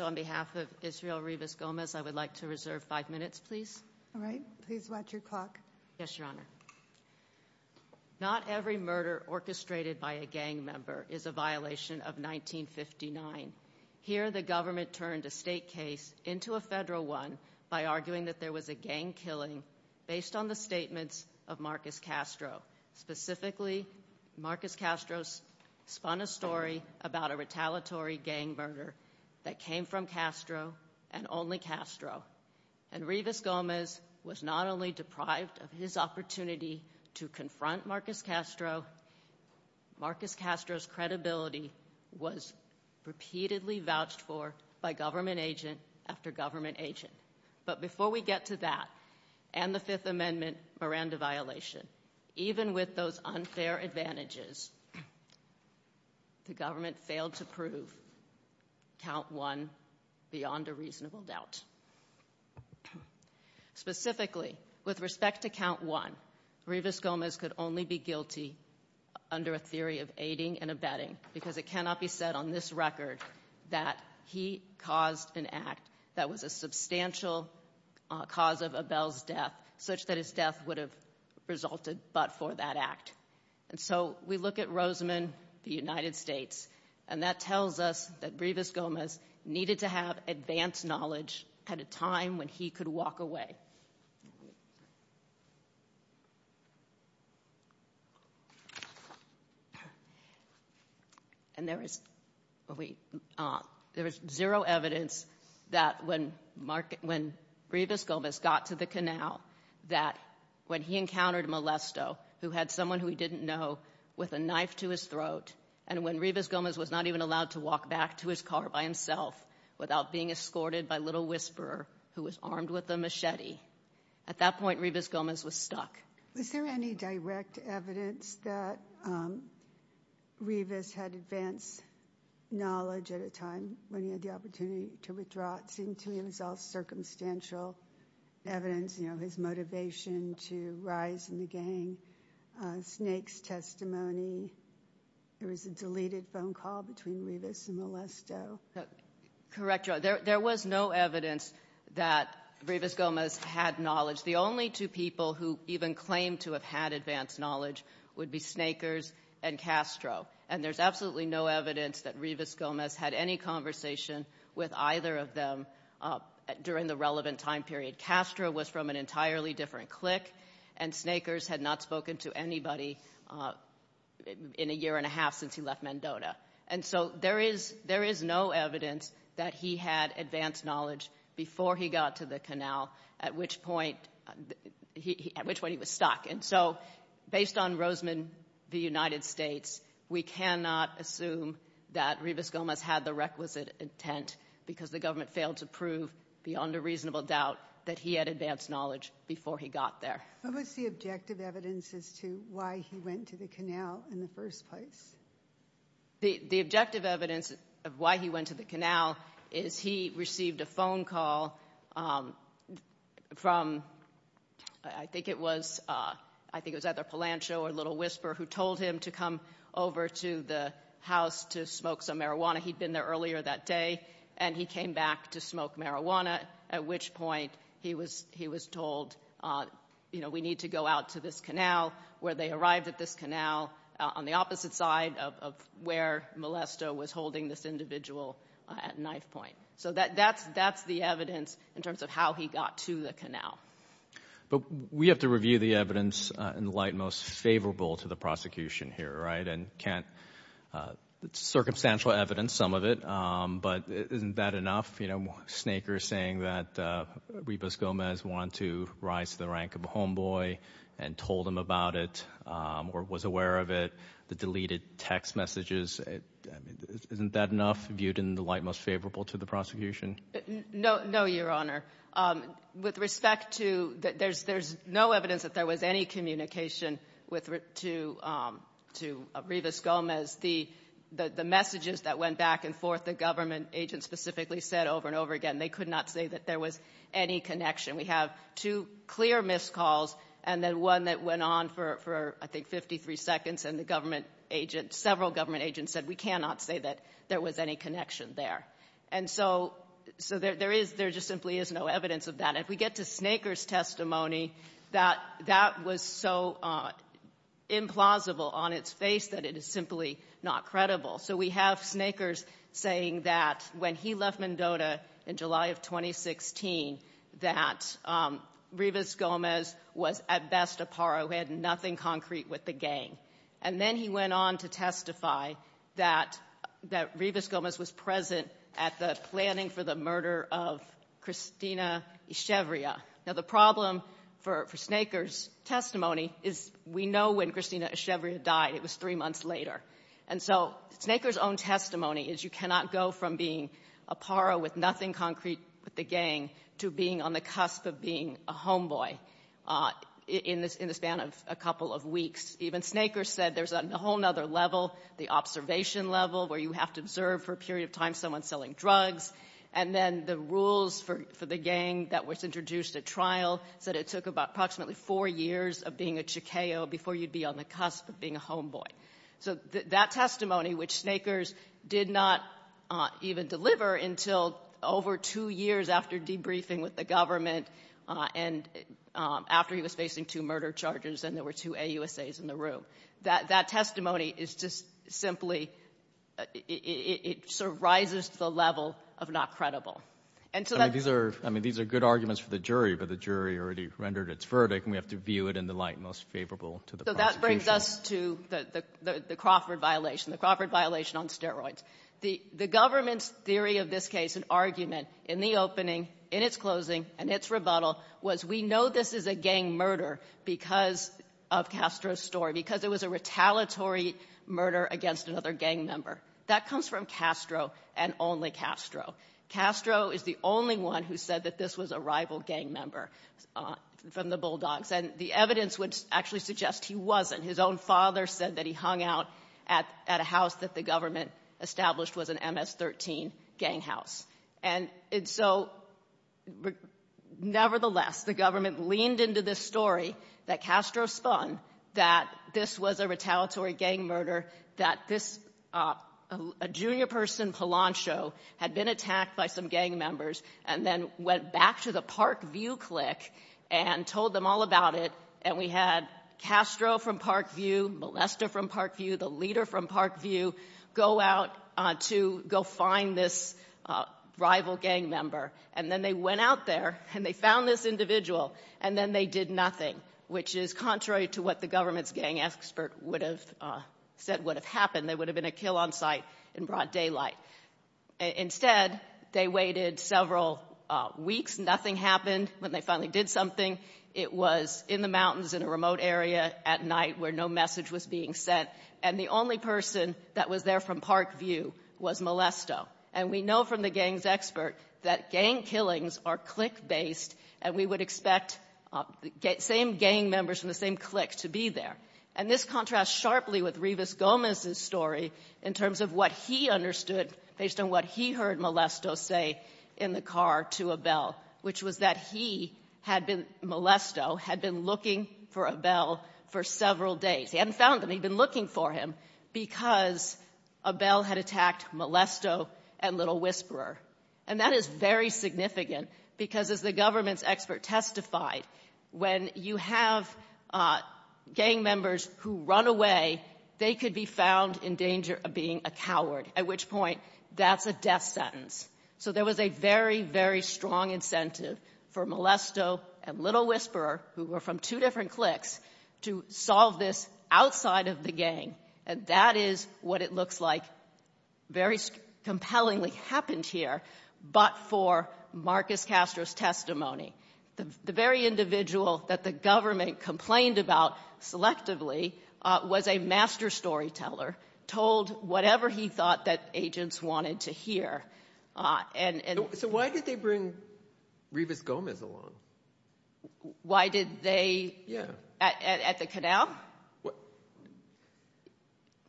On behalf of Israel Revis Gomez I would like to reserve five minutes please. All right, please watch your clock. Yes, Your Honor. Not every murder orchestrated by a gang member is a violation of 1959. Here the government turned a state case into a federal one by arguing that there was a gang killing based on the statements of Marcus Castro. Specifically, Marcus Castro spun a story about a retaliatory gang murder that came from Castro and only Castro. And Revis Gomez was not only deprived of his opportunity to confront Marcus Castro, Marcus Castro's credibility was repeatedly vouched for by government agent after government agent. But before we get to that and the amendment Miranda violation, even with those unfair advantages, the government failed to prove count one beyond a reasonable doubt. Specifically, with respect to count one, Revis Gomez could only be guilty under a theory of aiding and abetting because it cannot be said on this record that he caused an act that was a substantial cause of Abel's death such that his death would have resulted but for that act. And so we look at Rosamond, the United States, and that tells us that Revis Gomez needed to have advanced knowledge at a time when he could walk away. And there is zero evidence that when Revis Gomez got to the canal that when he encountered Molesto, who had someone who he didn't know, with a knife to his throat and when Revis Gomez was not even allowed to walk back to his car by himself without being escorted by Little Whisperer, who was armed with a machete. At that point, Revis Gomez was stuck. Was there any direct evidence that Revis had advanced knowledge at a time when he had the opportunity to withdraw? It seemed to me it was all circumstantial evidence, you know, his motivation to rise in the gang, Snake's testimony. There was a deleted phone call between Revis and Molesto. Correct, there was no evidence that Revis Gomez had knowledge. The only two people who even claimed to have had advanced knowledge would be Snakers and Castro. And there's absolutely no evidence that Revis Gomez had any conversation with either of them during the relevant time period. Castro was from an entirely different clique and Snakers had not spoken to anybody in a year and a half since he left Mendota. And so there is no evidence that he had advanced knowledge before he got to the canal, at which point he was stuck. And so based on Roseman v. United States, we cannot assume that Revis Gomez had the requisite intent because the government failed to prove, beyond a reasonable doubt, that he had advanced knowledge before he got there. What was the evidence as to why he went to the canal in the first place? The objective evidence of why he went to the canal is he received a phone call from, I think it was, I think it was either Palancho or Little Whisper, who told him to come over to the house to smoke some marijuana. He'd been there earlier that day and he came back to smoke marijuana, at which point he was told, you know, we need to go out to this canal, where they arrived at this canal, on the opposite side of where Molesto was holding this individual at knifepoint. So that that's that's the evidence in terms of how he got to the canal. But we have to review the evidence in the light most favorable to the prosecution here, right? And can't circumstantial evidence, some of it, but isn't that enough? You know, Snakers saying that Rivas Gomez wanted to rise to the rank of a homeboy and told him about it or was aware of it, the deleted text messages, isn't that enough, viewed in the light most favorable to the prosecution? No, no, Your Honor. With respect to that, there's there's no evidence that there was any communication with, to Rivas Gomez. The messages that went back and forth, the government agents specifically said over and over again, they could not say that there was any connection. We have two clear missed calls and then one that went on for, I think, 53 seconds, and the government agent, several government agents, said we cannot say that there was any connection there. And so, so there is, there just simply is no evidence of that. If we get to Snakers' testimony, that that was so implausible on its face that it is simply not credible. So we have Snakers saying that when he left Mendota in July of 2016, that Rivas Gomez was, at best, a parrot who had nothing concrete with the gang. And then he went on to testify that, that Rivas Gomez was present at the planning for the murder of Christina Echevria. Now the problem for, for Snakers' testimony is we know when Christina Echevria died. It was three months later. And so, Snakers' own testimony is you cannot go from being a parrot with nothing concrete with the gang to being on the cusp of being a homeboy in the span of a couple of weeks. Even Snakers said there's a whole other level, the observation level, where you have to observe for a period of time someone selling drugs. And then the rules for the gang that was introduced at trial said it took about approximately four years of being a parrot to KO before you'd be on the cusp of being a homeboy. So that testimony, which Snakers did not even deliver until over two years after debriefing with the government, and after he was facing two murder charges, and there were two AUSAs in the room, that, that testimony is just simply, it, it sort of rises to the level of not credible. And so that's the problem. Gannon. I mean, these are, I mean, these are good arguments for the jury, but the jury already rendered its verdict, and we have to view it in the light and most favorable to the prosecution. So that brings us to the Crawford violation, the Crawford violation on steroids. The government's theory of this case, an argument, in the opening, in its closing, and its rebuttal, was we know this is a gang murder because of Castro's story, because it was a retaliatory murder against another gang member. That comes from Castro and only Castro. Castro is the only one who said that this was a rival gang member from the Bulldogs. And the evidence would actually suggest he wasn't. His own father said that he hung out at, at a house that the government established was an MS-13 gang house. And, and so, nevertheless, the government leaned into this story that Castro spun, that this was a retaliatory gang murder, that this, a junior person, Palancho, had been attacked by some gang members, and then went back to the Parkview clique and told them all about it. And we had Castro from Parkview, Molesta from Parkview, the leader from Parkview, go out to, go find this rival gang member. And then they went out there, and they found this individual, and then they did nothing, which is contrary to what the government's gang expert would have said would have happened. There would have been a kill on site in broad daylight. Instead, they waited several weeks. Nothing happened. When they finally did something, it was in the mountains in a remote area at night where no message was being sent. And the only person that was there from Parkview was Molesto. And we know from the gang's expert that gang killings are clique-based, and we would expect same gang members from the same clique to be there. And this contrasts sharply with Rivas Gomez's story in terms of what he understood based on what he heard Molesto say in the car to Abel, which was that he had been, Molesto, had been looking for Abel for several days. He hadn't found him. He'd been looking for him because Abel had attacked Molesto and Little Whisperer. And that is very significant because, as the government's expert testified, when you have gang members who run away, they could be found in danger of being a coward, at which point that's a death sentence. So there was a very, very strong incentive for Molesto and Little Whisperer, who were from two different cliques, to solve this outside of the gang. And that is what it looks like very compellingly happened here, but for Marcus Castro's testimony. The very individual that the government complained about selectively was a master storyteller, told whatever he thought that agents wanted to hear. So why did they bring Rivas Gomez along? Why did they? Yeah. At the canal?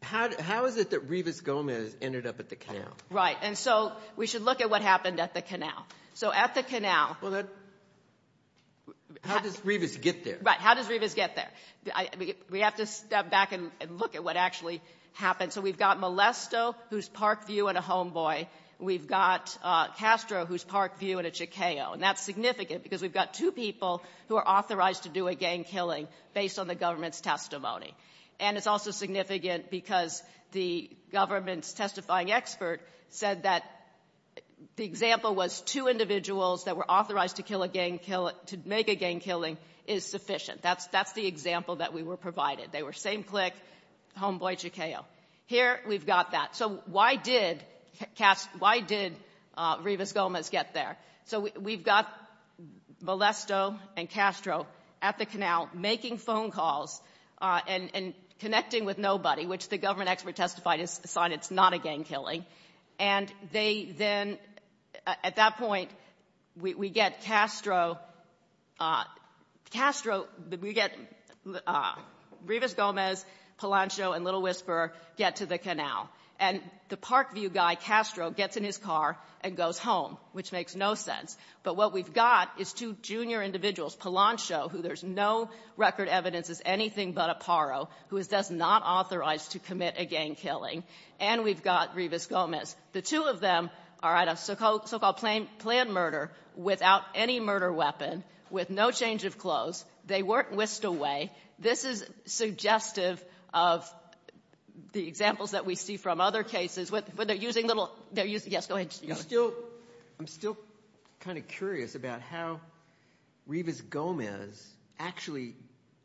How is it that Rivas Gomez ended up at the canal? Right, and so we should look at what happened at the canal. So at the canal... How does Rivas get there? Right, how does Rivas get there? We have to step back and look at what actually happened. So we've got Molesto, who's Parkview and a homeboy. We've got Castro, who's Parkview and a chicago. And that's significant because we've got two people who are authorized to do a gang killing based on the government's testimony. And it's also significant because the government's testifying expert said that the example was two individuals that were authorized to make a gang killing is sufficient. That's the example that we were provided. They were same clique, homeboy, chicago. Here we've got that. So why did Rivas Gomez get there? So we've got Molesto and Castro at the canal making phone calls and connecting with nobody, which the government expert testified is a sign it's not a gang killing. And they then, at that point, we get Castro, we get Rivas Gomez, Palancho, and Little Whisperer get to the canal. And the Parkview guy, Castro, gets in his car and goes home, which makes no sense. But what we've got is two junior individuals, Palancho, who there's no record evidence is anything but a The two of them are at a so-called planned murder without any murder weapon, with no change of clothes. They weren't whisked away. This is suggestive of the examples that we see from other cases. When they're using little they're using yes, go ahead. You still I'm still kind of curious about how Rivas Gomez actually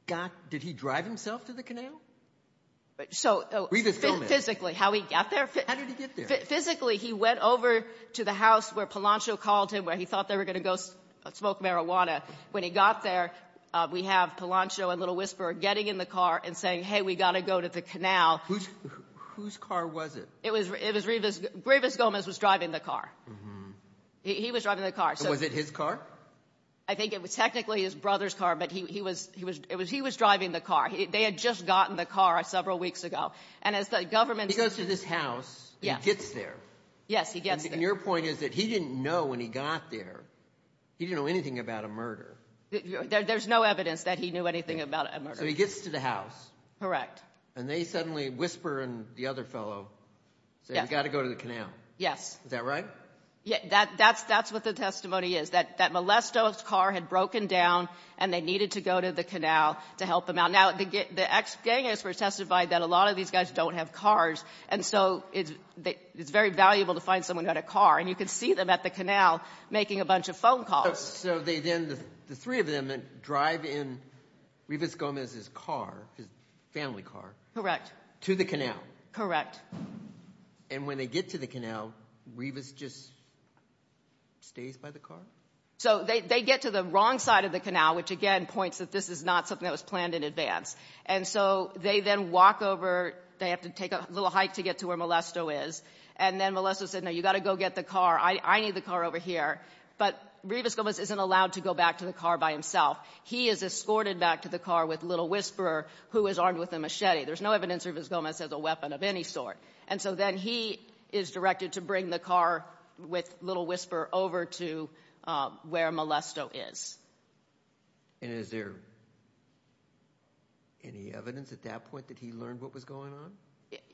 got did he drive himself to the canal? So physically how he got there. Physically, he went over to the house where Palancho called him where he thought they were going to go smoke marijuana. When he got there, we have Palancho and Little Whisperer getting in the car and saying, hey, we got to go to the canal. Whose whose car was it? It was it was Rivas Gomez was driving the car. He was driving the car. Was it his car? I think it was technically his brother's car, but he was he was it was he was driving the car. They had just gotten the car several weeks ago. And as the government goes to this house, he gets there. Yes, he gets there. And your point is that he didn't know when he got there. He didn't know anything about a murder. There's no evidence that he knew anything about a murder. So he gets to the house. Correct. And they suddenly Whisperer and the other fellow said, we got to go to the canal. Yes. Is that right? Yeah, that that's that's what the testimony is that that molesto's car had broken down and they needed to go to the canal to help them out. Now, the ex-gangsters testified that a lot of these guys don't have cars. And so it's it's very valuable to find someone at a car and you can see them at the canal making a bunch of phone calls. So they then the three of them drive in Rivas Gomez's car, his family car. Correct. To the canal. Correct. And when they get to the canal, Rivas just stays by the car. So they get to the wrong side of the canal, which again points that this is not something that was planned in advance. And so they then walk over. They have to take a little hike to get to where molesto is. And then molesto said, no, you got to go get the car. I need the car over here. But Rivas Gomez isn't allowed to go back to the car by himself. He is escorted back to the car with Little Whisperer, who is armed with a machete. There's no evidence Rivas Gomez has a weapon of any sort. And so then he is directed to bring the car with Little Whisperer over to where molesto is. And is there any evidence at that point that he learned what was going on?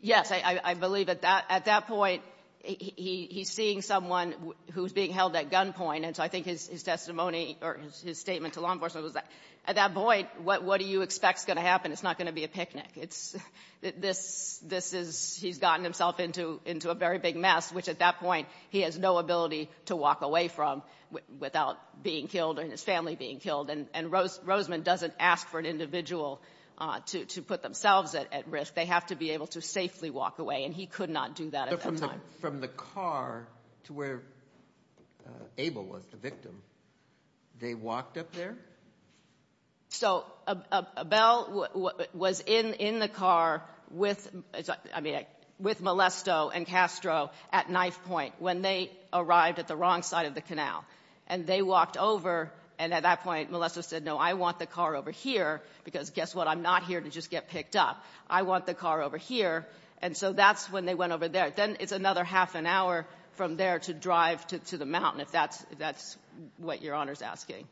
Yes. I believe at that point, he's seeing someone who's being held at gunpoint. And so I think his testimony or his statement to law enforcement was that at that point, what do you expect is going to happen? It's not going to be a picnic. It's this is he's gotten himself into a very big mess, which at that point, he has no ability to walk away from without being killed or his family being killed. And Roseman doesn't ask for an individual to put themselves at risk. They have to be able to safely walk away. And he could not do that at the time from the car to where Abel was the victim. They walked up there. So Abel was in in the car with I mean, with molesto and Castro at knife point when they arrived at the wrong side of the canal and they walked over. And at that point, molesto said, no, I want the car over here because guess what? I'm not here to just get picked up. I want the car over here. And so that's when they went over there. Then it's another half an hour from there to drive to the mountain, if that's that's what your honor's asking.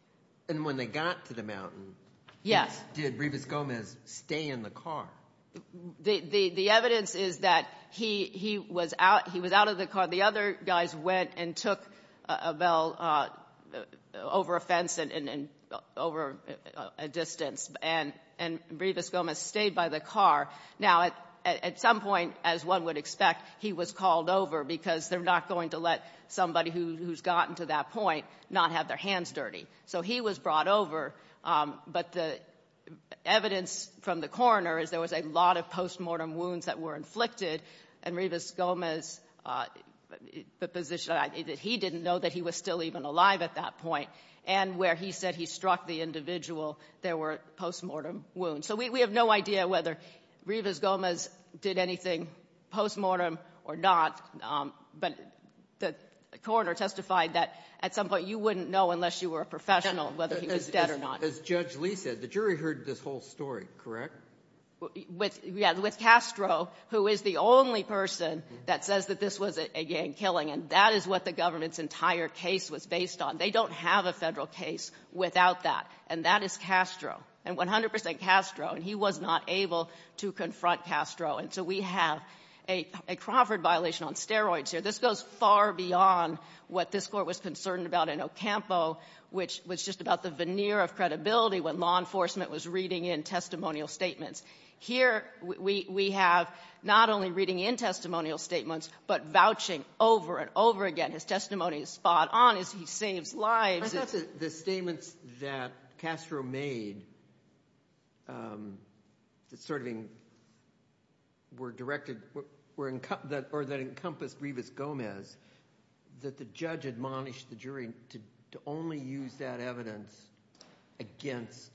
And when they got to the mountain. Yes. Did Rivas Gomez stay in the car? The evidence is that he he was out he was out of the car. The other guys went and took a bell over a fence and over a distance. And and Rivas Gomez stayed by the car. Now, at some point, as one would expect, he was called over because they're not going to let somebody who's gotten to that point not have their hands dirty. So he was brought over. But the evidence from the coroner is there was a lot of postmortem wounds that were inflicted. And Rivas Gomez, the position that he didn't know that he was still even alive at that point and where he said he struck the individual, there were postmortem wounds. So we have no idea whether Rivas Gomez did anything postmortem or not. But the coroner testified that at some point you wouldn't know unless you were a professional, whether he was dead or not. As Judge Lee said, the jury heard this whole story, correct? With with Castro, who is the only person that says that this was a gang killing. And that is what the government's entire case was based on. They don't have a federal case without that. And that is Castro and 100 percent Castro. And he was not able to confront Castro. And so we have a Crawford violation on steroids here. This goes far beyond what this Court was concerned about in Ocampo, which was just about the veneer of credibility when law enforcement was reading in testimonial statements. Here we have not only reading in testimonial statements, but vouching over and over again. His testimony is spot on. He made the serving were directed were in or that encompassed Rivas Gomez, that the judge admonished the jury to only use that evidence against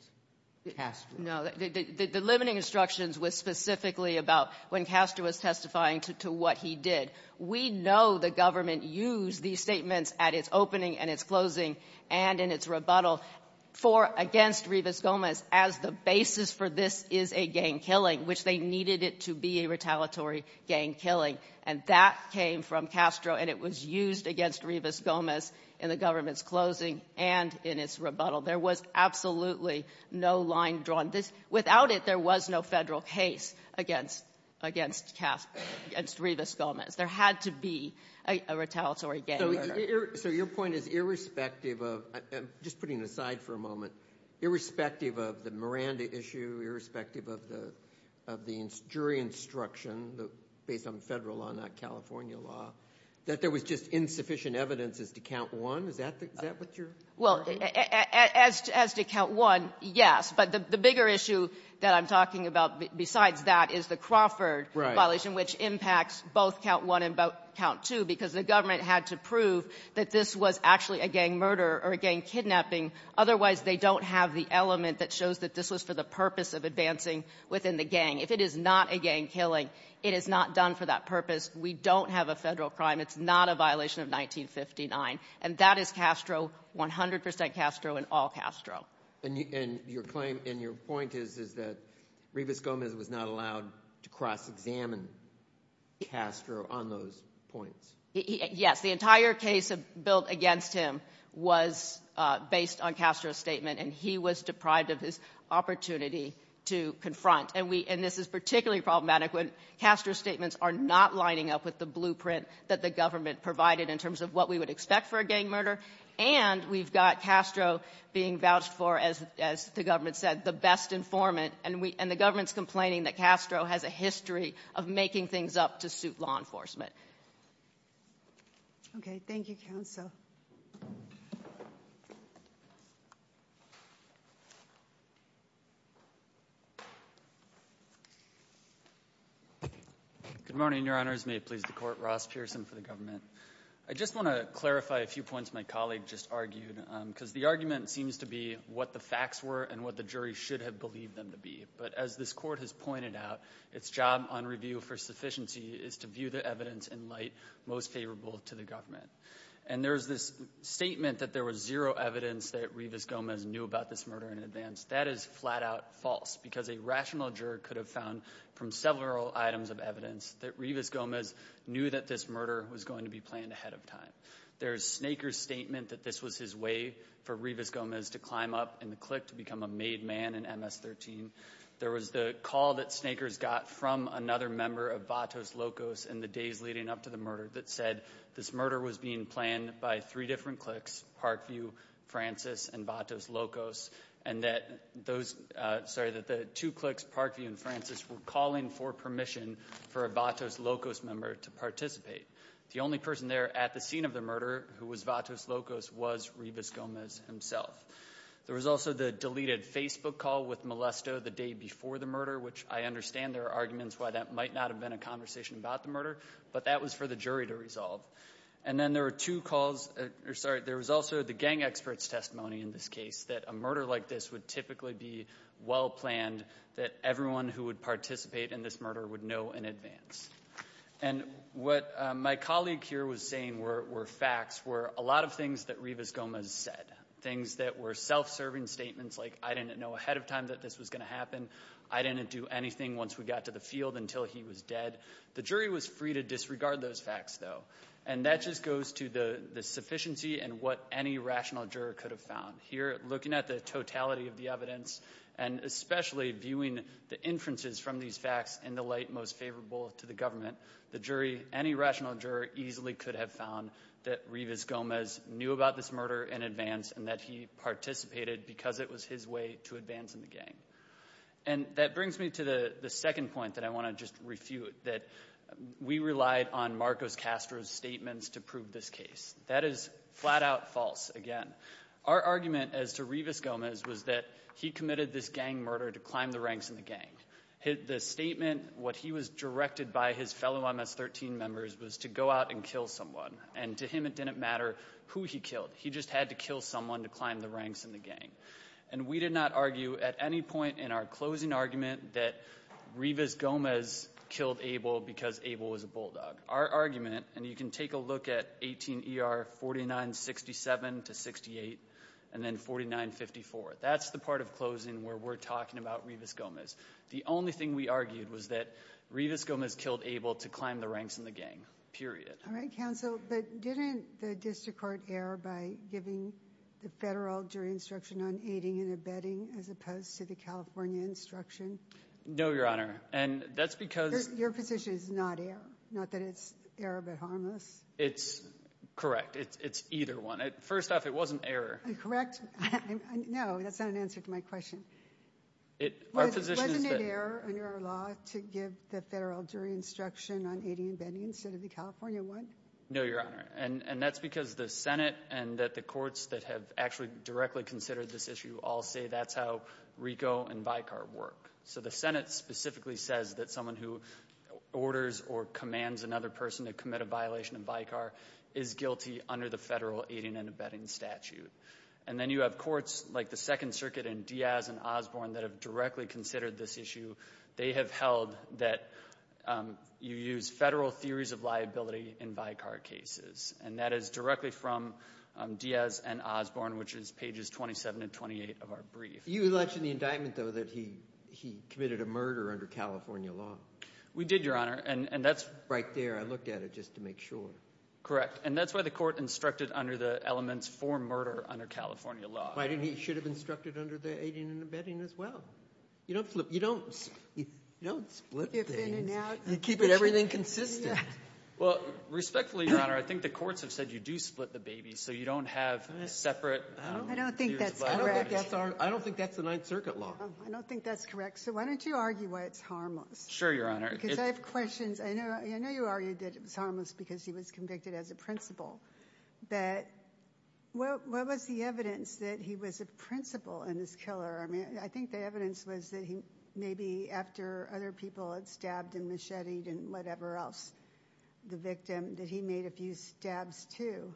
Castro. No, the limiting instructions was specifically about when Castro was testifying to what he did. We know the government used these statements at its closing and in its rebuttal for against Rivas Gomez as the basis for this is a gang killing, which they needed it to be a retaliatory gang killing. And that came from Castro, and it was used against Rivas Gomez in the government's closing and in its rebuttal. There was absolutely no line drawn. This without it, there was no federal case against against Rivas Gomez. There had to be a retaliatory gang. So your point is irrespective of just putting aside for a moment, irrespective of the Miranda issue, irrespective of the of the jury instruction based on federal law, not California law, that there was just insufficient evidence is to count one. Is that what you're well as as to count one? Yes. But the bigger issue that I'm talking about besides that is the Crawford violation, which impacts both count one and count two because the government had to prove that this was actually a gang murder or a gang kidnapping. Otherwise, they don't have the element that shows that this was for the purpose of advancing within the gang. If it is not a gang killing, it is not done for that purpose. We don't have a federal crime. It's not a violation of 1959. And that is Castro, 100 percent Castro and all Castro. And your claim and your point is, is that Rivas Gomez was not allowed to cross-examine Castro on those points. Yes. The entire case built against him was based on Castro's statement, and he was deprived of his opportunity to confront. And we and this is particularly problematic when Castro's statements are not lining up with the blueprint that the government provided in terms of what we would expect for a gang murder. And we've got Castro being vouched for, as the government said, the best informant. And the government's complaining that Castro has a history of making things up to suit law enforcement. Okay. Thank you, counsel. Good morning, Your Honors. May it please the Court. Ross Pearson for the government. I just want to clarify a few points my colleague just argued because the argument seems to be what the facts were and what the jury should have believed them to be. But as this Court has pointed out, its job on review for sufficiency is to view the evidence in light most favorable to the government. And there's this statement that there was zero evidence that Rivas Gomez knew about this murder in advance. That is flat-out false because a rational juror could have found from several items of evidence that Rivas Gomez knew that this murder was going to be planned ahead of time. There's Snaker's statement that this was his way for Rivas Gomez to climb up in the clique to become a made man in MS-13. There was the call that Snaker's got from another member of Vatos Locos in the days leading up to the murder that said this murder was being planned by three different cliques, Parkview, Francis, and Vatos Locos, and that those, sorry, that the two cliques, Parkview and Francis, were calling for permission for a Vatos Locos member to participate. The only person there at the time of the murder, who was Vatos Locos, was Rivas Gomez himself. There was also the deleted Facebook call with Molesto the day before the murder, which I understand there are arguments why that might not have been a conversation about the murder, but that was for the jury to resolve. And then there were two calls, or sorry, there was also the gang expert's testimony in this case, that a murder like this would typically be well-planned, that everyone who would participate in this murder would know in advance. And what my colleague here was saying were facts, were a lot of things that Rivas Gomez said, things that were self-serving statements like, I didn't know ahead of time that this was going to happen, I didn't do anything once we got to the field until he was dead. The jury was free to disregard those facts, though, and that just goes to the sufficiency and what any rational juror could have found. Here, looking at the totality of the evidence, and especially viewing the inferences from these facts in the light most favorable to the government, the jury, any rational juror, easily could have found that Rivas Gomez knew about this murder in advance and that he participated because it was his way to advance in the gang. And that brings me to the second point that I want to just refute, that we relied on Marcos Castro's statements to prove this case. That is flat-out false, again. Our argument as to Rivas Gomez was that he committed this gang murder to climb the ranks in the gang. The statement, what he was directed by his fellow MS-13 members was to go out and kill someone. And to him, it didn't matter who he killed. He just had to kill someone to climb the ranks in the gang. And we did not argue at any point in our closing argument that Rivas Gomez killed Abel because Abel was a bulldog. Our argument, and you can take a look at 18 ER 4967 to 68, and then 4954. That's the part of closing where we're talking about Rivas Gomez. The only thing we argued was that Rivas Gomez killed Abel to climb the ranks in the gang, period. All right, counsel, but didn't the district court err by giving the federal jury instruction on aiding and abetting as opposed to the California instruction? No, Your Honor. And that's because Your position is not error. Not that it's error, but harmless. It's correct. It's either one. First off, it wasn't error. Correct? No, that's not an answer to my question. Our position is that Wasn't it error under our law to give the federal jury instruction on aiding and abetting instead of the California one? No, Your Honor. And that's because the Senate and the courts that have actually directly considered this issue all say that's how RICO and VICAR work. So the Senate specifically says that someone who orders or commands another person to commit a violation of VICAR is guilty under the federal aiding and abetting statute. And then you have courts like the Second Circuit and Diaz and Osborne that have directly considered this issue. They have held that you use federal theories of liability in VICAR cases. And that is directly from Diaz and Osborne, which is pages 27 and 28 of our brief. You mentioned in the indictment, though, that he committed a murder under California law. We did, Your Honor. And that's right there. I looked at it just to make sure. Correct. And that's why the court instructed under the elements for murder under California law. Why didn't he? He should have instructed under the aiding and abetting as well. You don't split things. You keep everything consistent. Well, respectfully, Your Honor, I think the courts have said you do split the baby so you don't have separate theories of liability. I don't think that's correct. I don't think that's the Ninth Circuit law. I don't think that's correct. So why don't you argue why it's harmless? Sure, Your Honor. Because I have questions. I know you argued that it was harmless because he was convicted as a principal. But what was the evidence that he was a principal and a killer? I mean, I think the evidence was that he maybe after other people had stabbed and macheted and whatever else the victim, that he made a few stabs, too.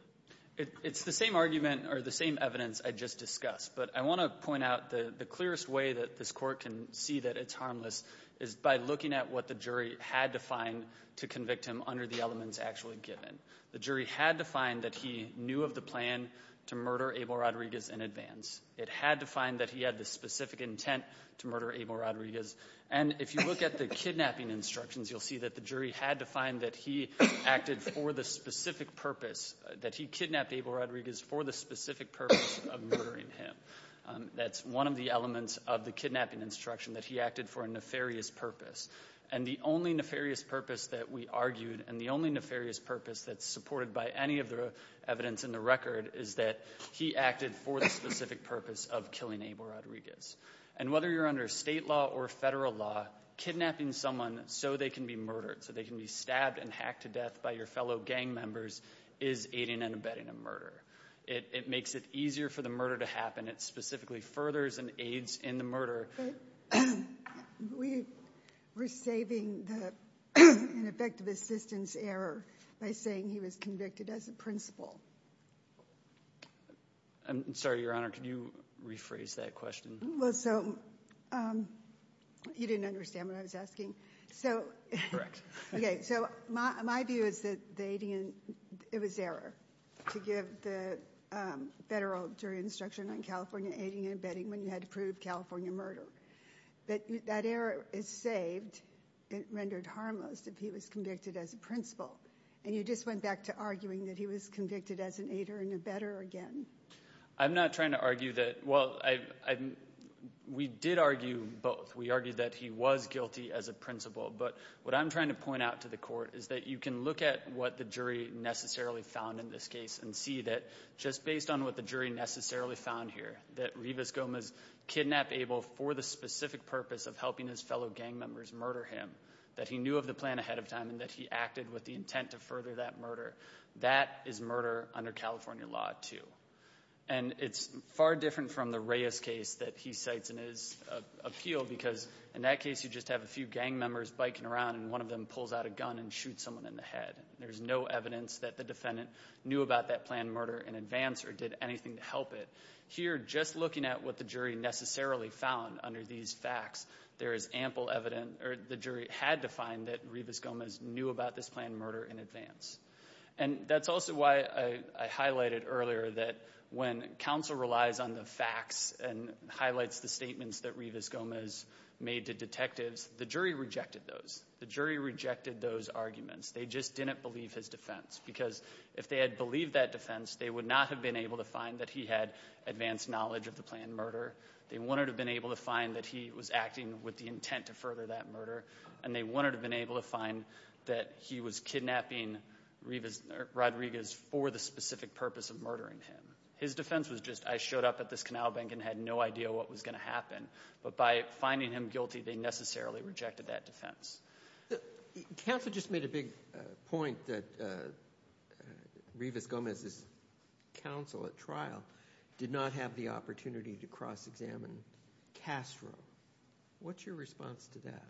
It's the same argument or the same evidence I just discussed. But I want to point out the clearest way that this Court can see that it's harmless is by looking at what the jury had to find to convict him under the elements actually given. The jury had to find that he knew of the plan to murder Abel Rodriguez in advance. It had to find that he had the specific intent to murder Abel Rodriguez. And if you look at the kidnapping instructions, you'll see that the jury had to find that he acted for the specific purpose, that he kidnapped Abel Rodriguez for the specific purpose of murdering him. That's one of the elements of the kidnapping instruction, that he acted for a nefarious purpose. And the only nefarious purpose that we argued and the only nefarious purpose that's supported by any of the evidence in the record is that he acted for the specific purpose of killing Abel Rodriguez. And whether you're under state law or federal law, kidnapping someone so they can be murdered, so they can be stabbed and hacked to death by your fellow gang members is aiding and abetting a murder. It makes it easier for the murder to happen. It specifically furthers and aids in the murder. We were saving the ineffective assistance error by saying he was convicted as a principal. I'm sorry, Your Honor. Can you rephrase that question? Well, so, you didn't understand what I was asking. So, my view is that it was error to give the federal jury instruction on California aiding and abetting when you had to prove California murder. But that error is saved and rendered harmless if he was convicted as a principal. And you just went back to arguing that he was convicted as an aider and abetter again. I'm not trying to argue that, well, we did argue both. We argued that he was guilty as a principal. But what I'm trying to point out to the court is that you can look at what the jury necessarily found in this case and see that just based on what the jury necessarily found here, that Rivas Gomez kidnapped Abel for the specific purpose of helping his fellow gang members murder him, that he knew of the plan ahead of time and that he acted with the intent to further that murder. That is murder under California law, too. And it's far different from the Reyes case that he cites in his appeal because in that case you just have a few gang members biking around and one of them pulls out a gun and shoots someone in the head. There's no evidence that the defendant knew about that planned murder in advance or did anything to help it. Here, just looking at what the jury necessarily found under these facts, there is ample evidence, or the jury had to find that Rivas Gomez knew about this planned murder in advance. And that's also why I highlighted earlier that when counsel relies on the facts and highlights the statements that Rivas Gomez made to detectives, the jury rejected those. The jury rejected those arguments. They just didn't believe his defense because if they had believed that defense, they would not have been able to find that he had advanced knowledge of the planned murder. They wouldn't have been able to find that he was acting with the intent to further that murder. And they wouldn't have been able to find that he was kidnapping Rodriguez for the specific purpose of murdering him. His defense was just, I showed up at this canal bank and had no idea what was going to happen. But by finding him guilty, they necessarily rejected that defense. Counsel just made a big point that Rivas Gomez's counsel at trial did not have the opportunity to cross-examine Castro. What's your response to that?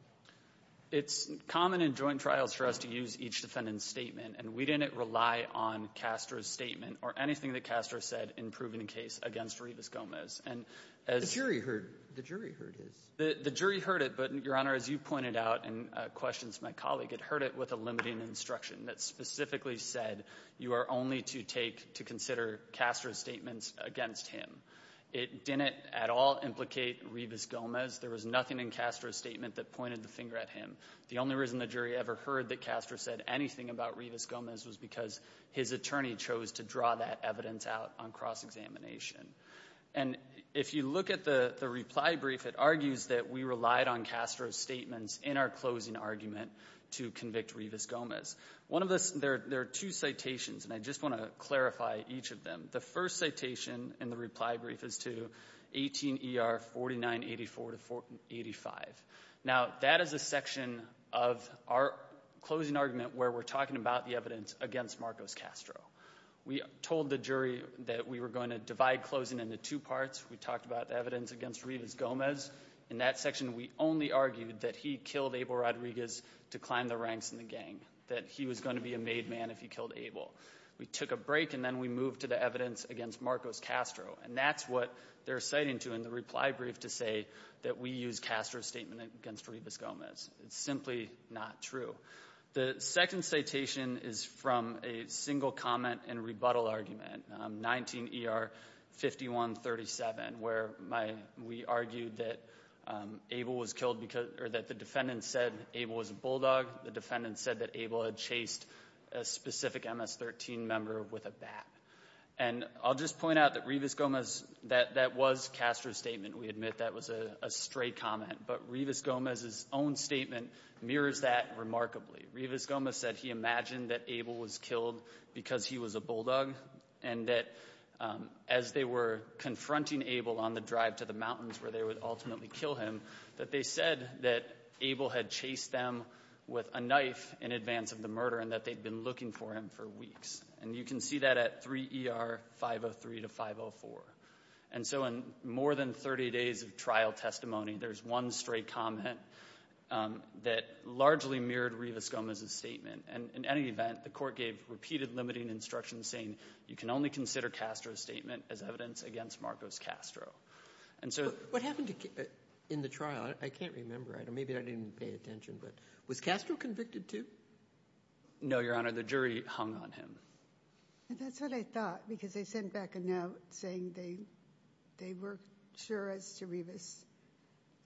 It's common in joint trials for us to use each defendant's statement. And we didn't rely on Castro's statement or anything that Castro said in proving the case against Rivas Gomez. And as the jury heard his the jury heard it, but, Your Honor, as you pointed out in questions to my colleague, it heard it with a limiting instruction that specifically said you are only to take to consider Castro's statements against him. It didn't at all implicate Rivas Gomez. There was nothing in Castro's statement that pointed the finger at him. The only reason the jury ever heard that Castro said anything about Rivas Gomez was because his attorney chose to draw that evidence out on cross-examination. And if you look at the reply brief, it argues that we relied on Castro's statements in our closing argument to convict Rivas Gomez. One of the ‑‑ there are two citations, and I just want to clarify each of them. The first citation in the reply brief is to 18 E.R. 4984 to 85. Now, that is a section of our closing argument where we're talking about the evidence against Marcos Castro. We told the jury that we were going to divide closing into two parts. We talked about evidence against Rivas Gomez. In that section, we only argued that he killed Abel Rodriguez to climb the ranks in the gang, that he was going to be a made man if he killed Abel. We took a break, and then we moved to the evidence against Marcos Castro. And that's what they're citing to in the reply brief to say that we used Castro's statement against Rivas Gomez. It's simply not true. The second citation is from a single comment and rebuttal argument, 19 E.R. 5137, where we argued that Abel was killed because ‑‑ or that the defendant said Abel was a bulldog. The defendant said that Abel had chased a specific MS‑13 member with a bat. And I'll just point out that Rivas Gomez ‑‑ that was Castro's statement. We admit that was a stray comment. But Rivas Gomez's own statement mirrors that remarkably. Rivas Gomez said he imagined that Abel was killed because he was a bulldog, and that as they were confronting Abel on the drive to the mountains where they would ultimately kill him, that they said that Abel had chased them with a knife in advance of the murder and that they'd been looking for him for weeks. And you can see that at 3 E.R. 503 to 504. And so in more than 30 days of trial testimony, there's one stray comment that largely mirrored Rivas Gomez's statement. And in any event, the court gave repeated limiting instructions saying you can only consider Castro's statement as evidence against Marcos Castro. And so ‑‑ What happened in the trial? I can't remember. Maybe I didn't pay attention. Was Castro convicted too? No, Your Honor. The jury hung on him. That's what I thought because they sent back a note saying they were sure as to Rivas,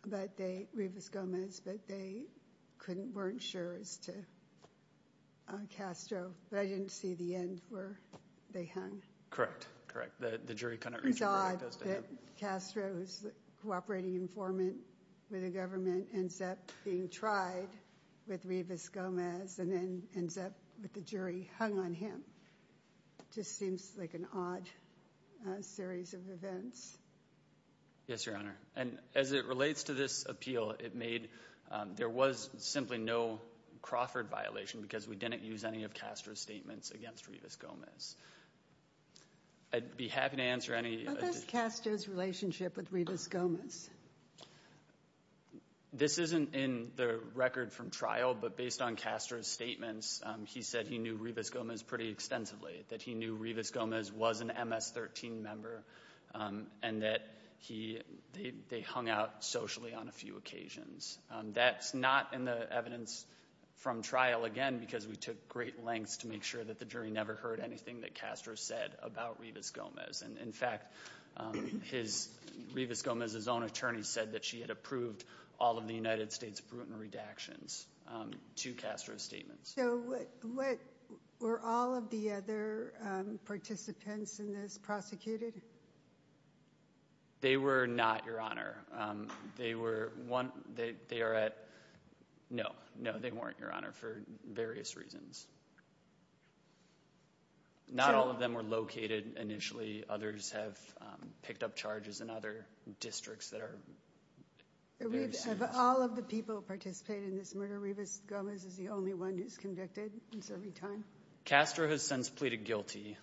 but they ‑‑ Rivas Gomez, but they weren't sure as to Castro. But I didn't see the end where they hung. Correct. Correct. The jury couldn't reach a verdict as to him. It's odd that Castro, who's a cooperating informant with the government, ends up being tried with Rivas Gomez and then ends up with the jury hung on him. Just seems like an odd series of events. Yes, Your Honor. And as it relates to this appeal, it made ‑‑ there was simply no Crawford violation because we didn't use any of Castro's statements against Rivas Gomez. I'd be happy to answer any ‑‑ What is Castro's relationship with Rivas Gomez? This isn't in the record from trial, but based on Castro's statements, he said he knew Rivas Gomez pretty extensively, that he knew Rivas Gomez was an MS‑13 member and that he ‑‑ they hung out socially on a few occasions. That's not in the evidence from trial, again, because we took great lengths to make sure that the jury never heard anything that Castro said about Rivas Gomez. And, in fact, his ‑‑ Rivas Gomez's own attorney said that she had approved all of the United States Bruton redactions to Castro's statements. So what ‑‑ were all of the other participants in this prosecuted? They were not, Your Honor. They were ‑‑ they are at ‑‑ no, no, they weren't, Your Honor, for various reasons. Not all of them were located initially. Others have picked up charges in other districts that are ‑‑ All of the people who participated in this murder, Rivas Gomez is the only one who's been convicted in serving time? Castro has since pleaded guilty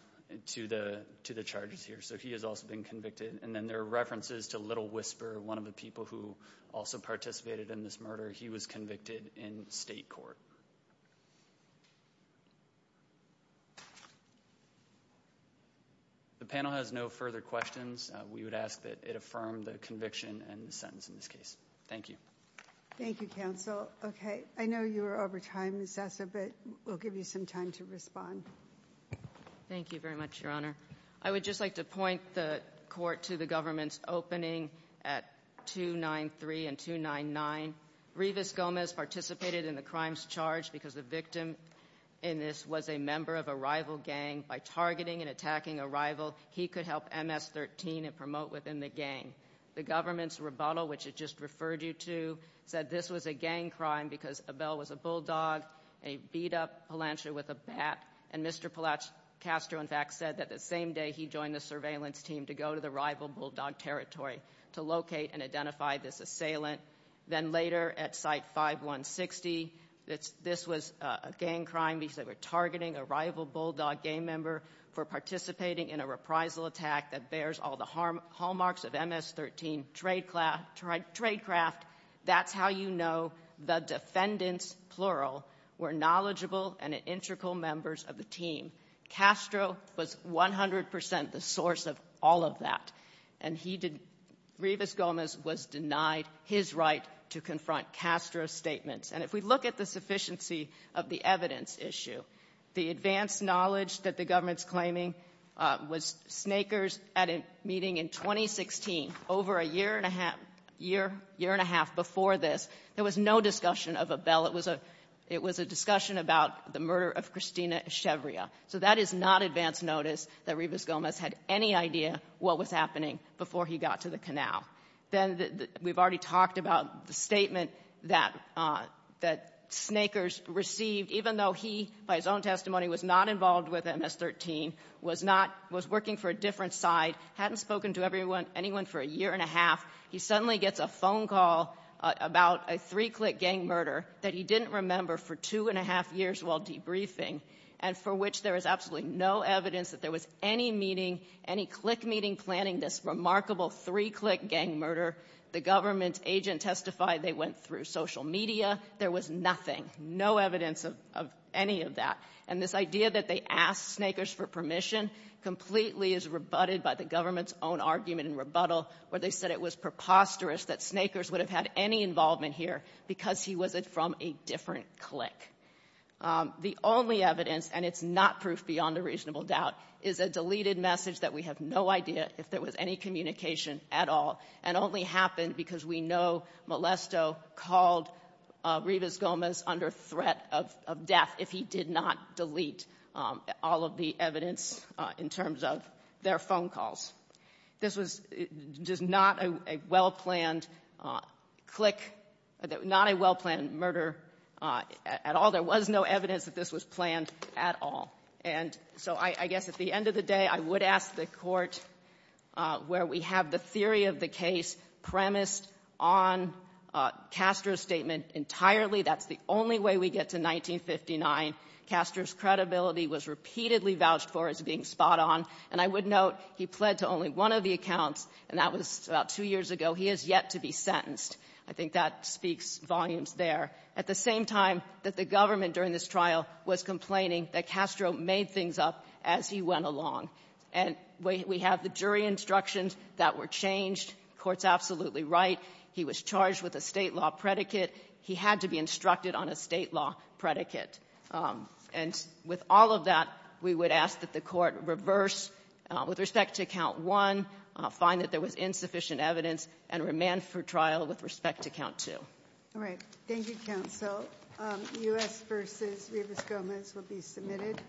to the charges here, so he has also been convicted. And then there are references to Little Whisper, one of the people who also participated in this murder. He was convicted in state court. The panel has no further questions. We would ask that it affirm the conviction and the sentence in this case. Thank you. Thank you, counsel. Okay. I know you were over time, Assessor, but we'll give you some time to respond. Thank you very much, Your Honor. I would just like to point the court to the government's opening at 293 and 299. Rivas Gomez participated in the crimes charged because the victim in this was a member of a rival gang. By targeting and attacking a rival, he could help MS‑13 and promote within the gang. The government's rebuttal, which it just referred you to, said this was a gang crime because Abel was a bulldog, a beat‑up Palancher with a bat. And Mr. Castro, in fact, said that the same day he joined the surveillance team to go to the rival bulldog territory to locate and identify this assailant. Then later, at Site 5160, this was a gang crime because they were targeting a rival bulldog gang member for participating in a reprisal attack that bears all the hallmarks of MS‑13 tradecraft. That's how you know the defendants, plural, were knowledgeable and integral members of the team. Castro was 100 percent the source of all of that. And he did ‑‑ Rivas Gomez was denied his right to confront Castro's statements. And if we look at the sufficiency of the evidence issue, the advanced knowledge that the government's claiming was Snakers at a meeting in 2016, over a year and a half before this, there was no discussion of Abel. It was a discussion about the murder of Christina Echevria. So that is not advanced notice that Rivas Gomez had any idea what was happening before he got to the canal. Then we've already talked about the statement that Snakers received, even though he, by his own testimony, was not involved with MS‑13, was working for a different side, hadn't spoken to anyone for a year and a half, he suddenly gets a phone call about a three‑click gang murder that he didn't remember for two and a half years while debriefing, and for which there is absolutely no evidence that there was any meeting, any click meeting planning this remarkable three‑click gang murder. The government agent testified they went through social media. There was nothing, no evidence of any of that. And this idea that they asked Snakers for permission completely is rebutted by the government's own argument and rebuttal where they said it was preposterous that Snakers would have had any involvement here because he was from a different click. The only evidence, and it's not proof beyond a reasonable doubt, is a deleted message that we have no idea if there was any communication at all and only happened because we know Molesto called Rivas Gomez under threat of death if he did not delete all of the evidence in terms of their phone calls. This was just not a well‑planned click, not a well‑planned murder at all. There was no evidence that this was planned at all. And so I guess at the end of the day, I would ask the court where we have the theory of the case premised on Castro's statement entirely. That's the only way we get to 1959. Castro's credibility was repeatedly vouched for as being spot on. And I would note he pled to only one of the accounts, and that was about two years ago. He is yet to be sentenced. I think that speaks volumes there. At the same time that the government during this trial was complaining that Castro made things up as he went along. And we have the jury instructions that were changed. The court's absolutely right. He was charged with a State law predicate. He had to be instructed on a State law predicate. And with all of that, we would ask that the court reverse with respect to count one, find that there was insufficient evidence, and remand for trial with respect to count two. All right. Thank you, Counsel. U.S. v. Rivas Gomez will be submitted.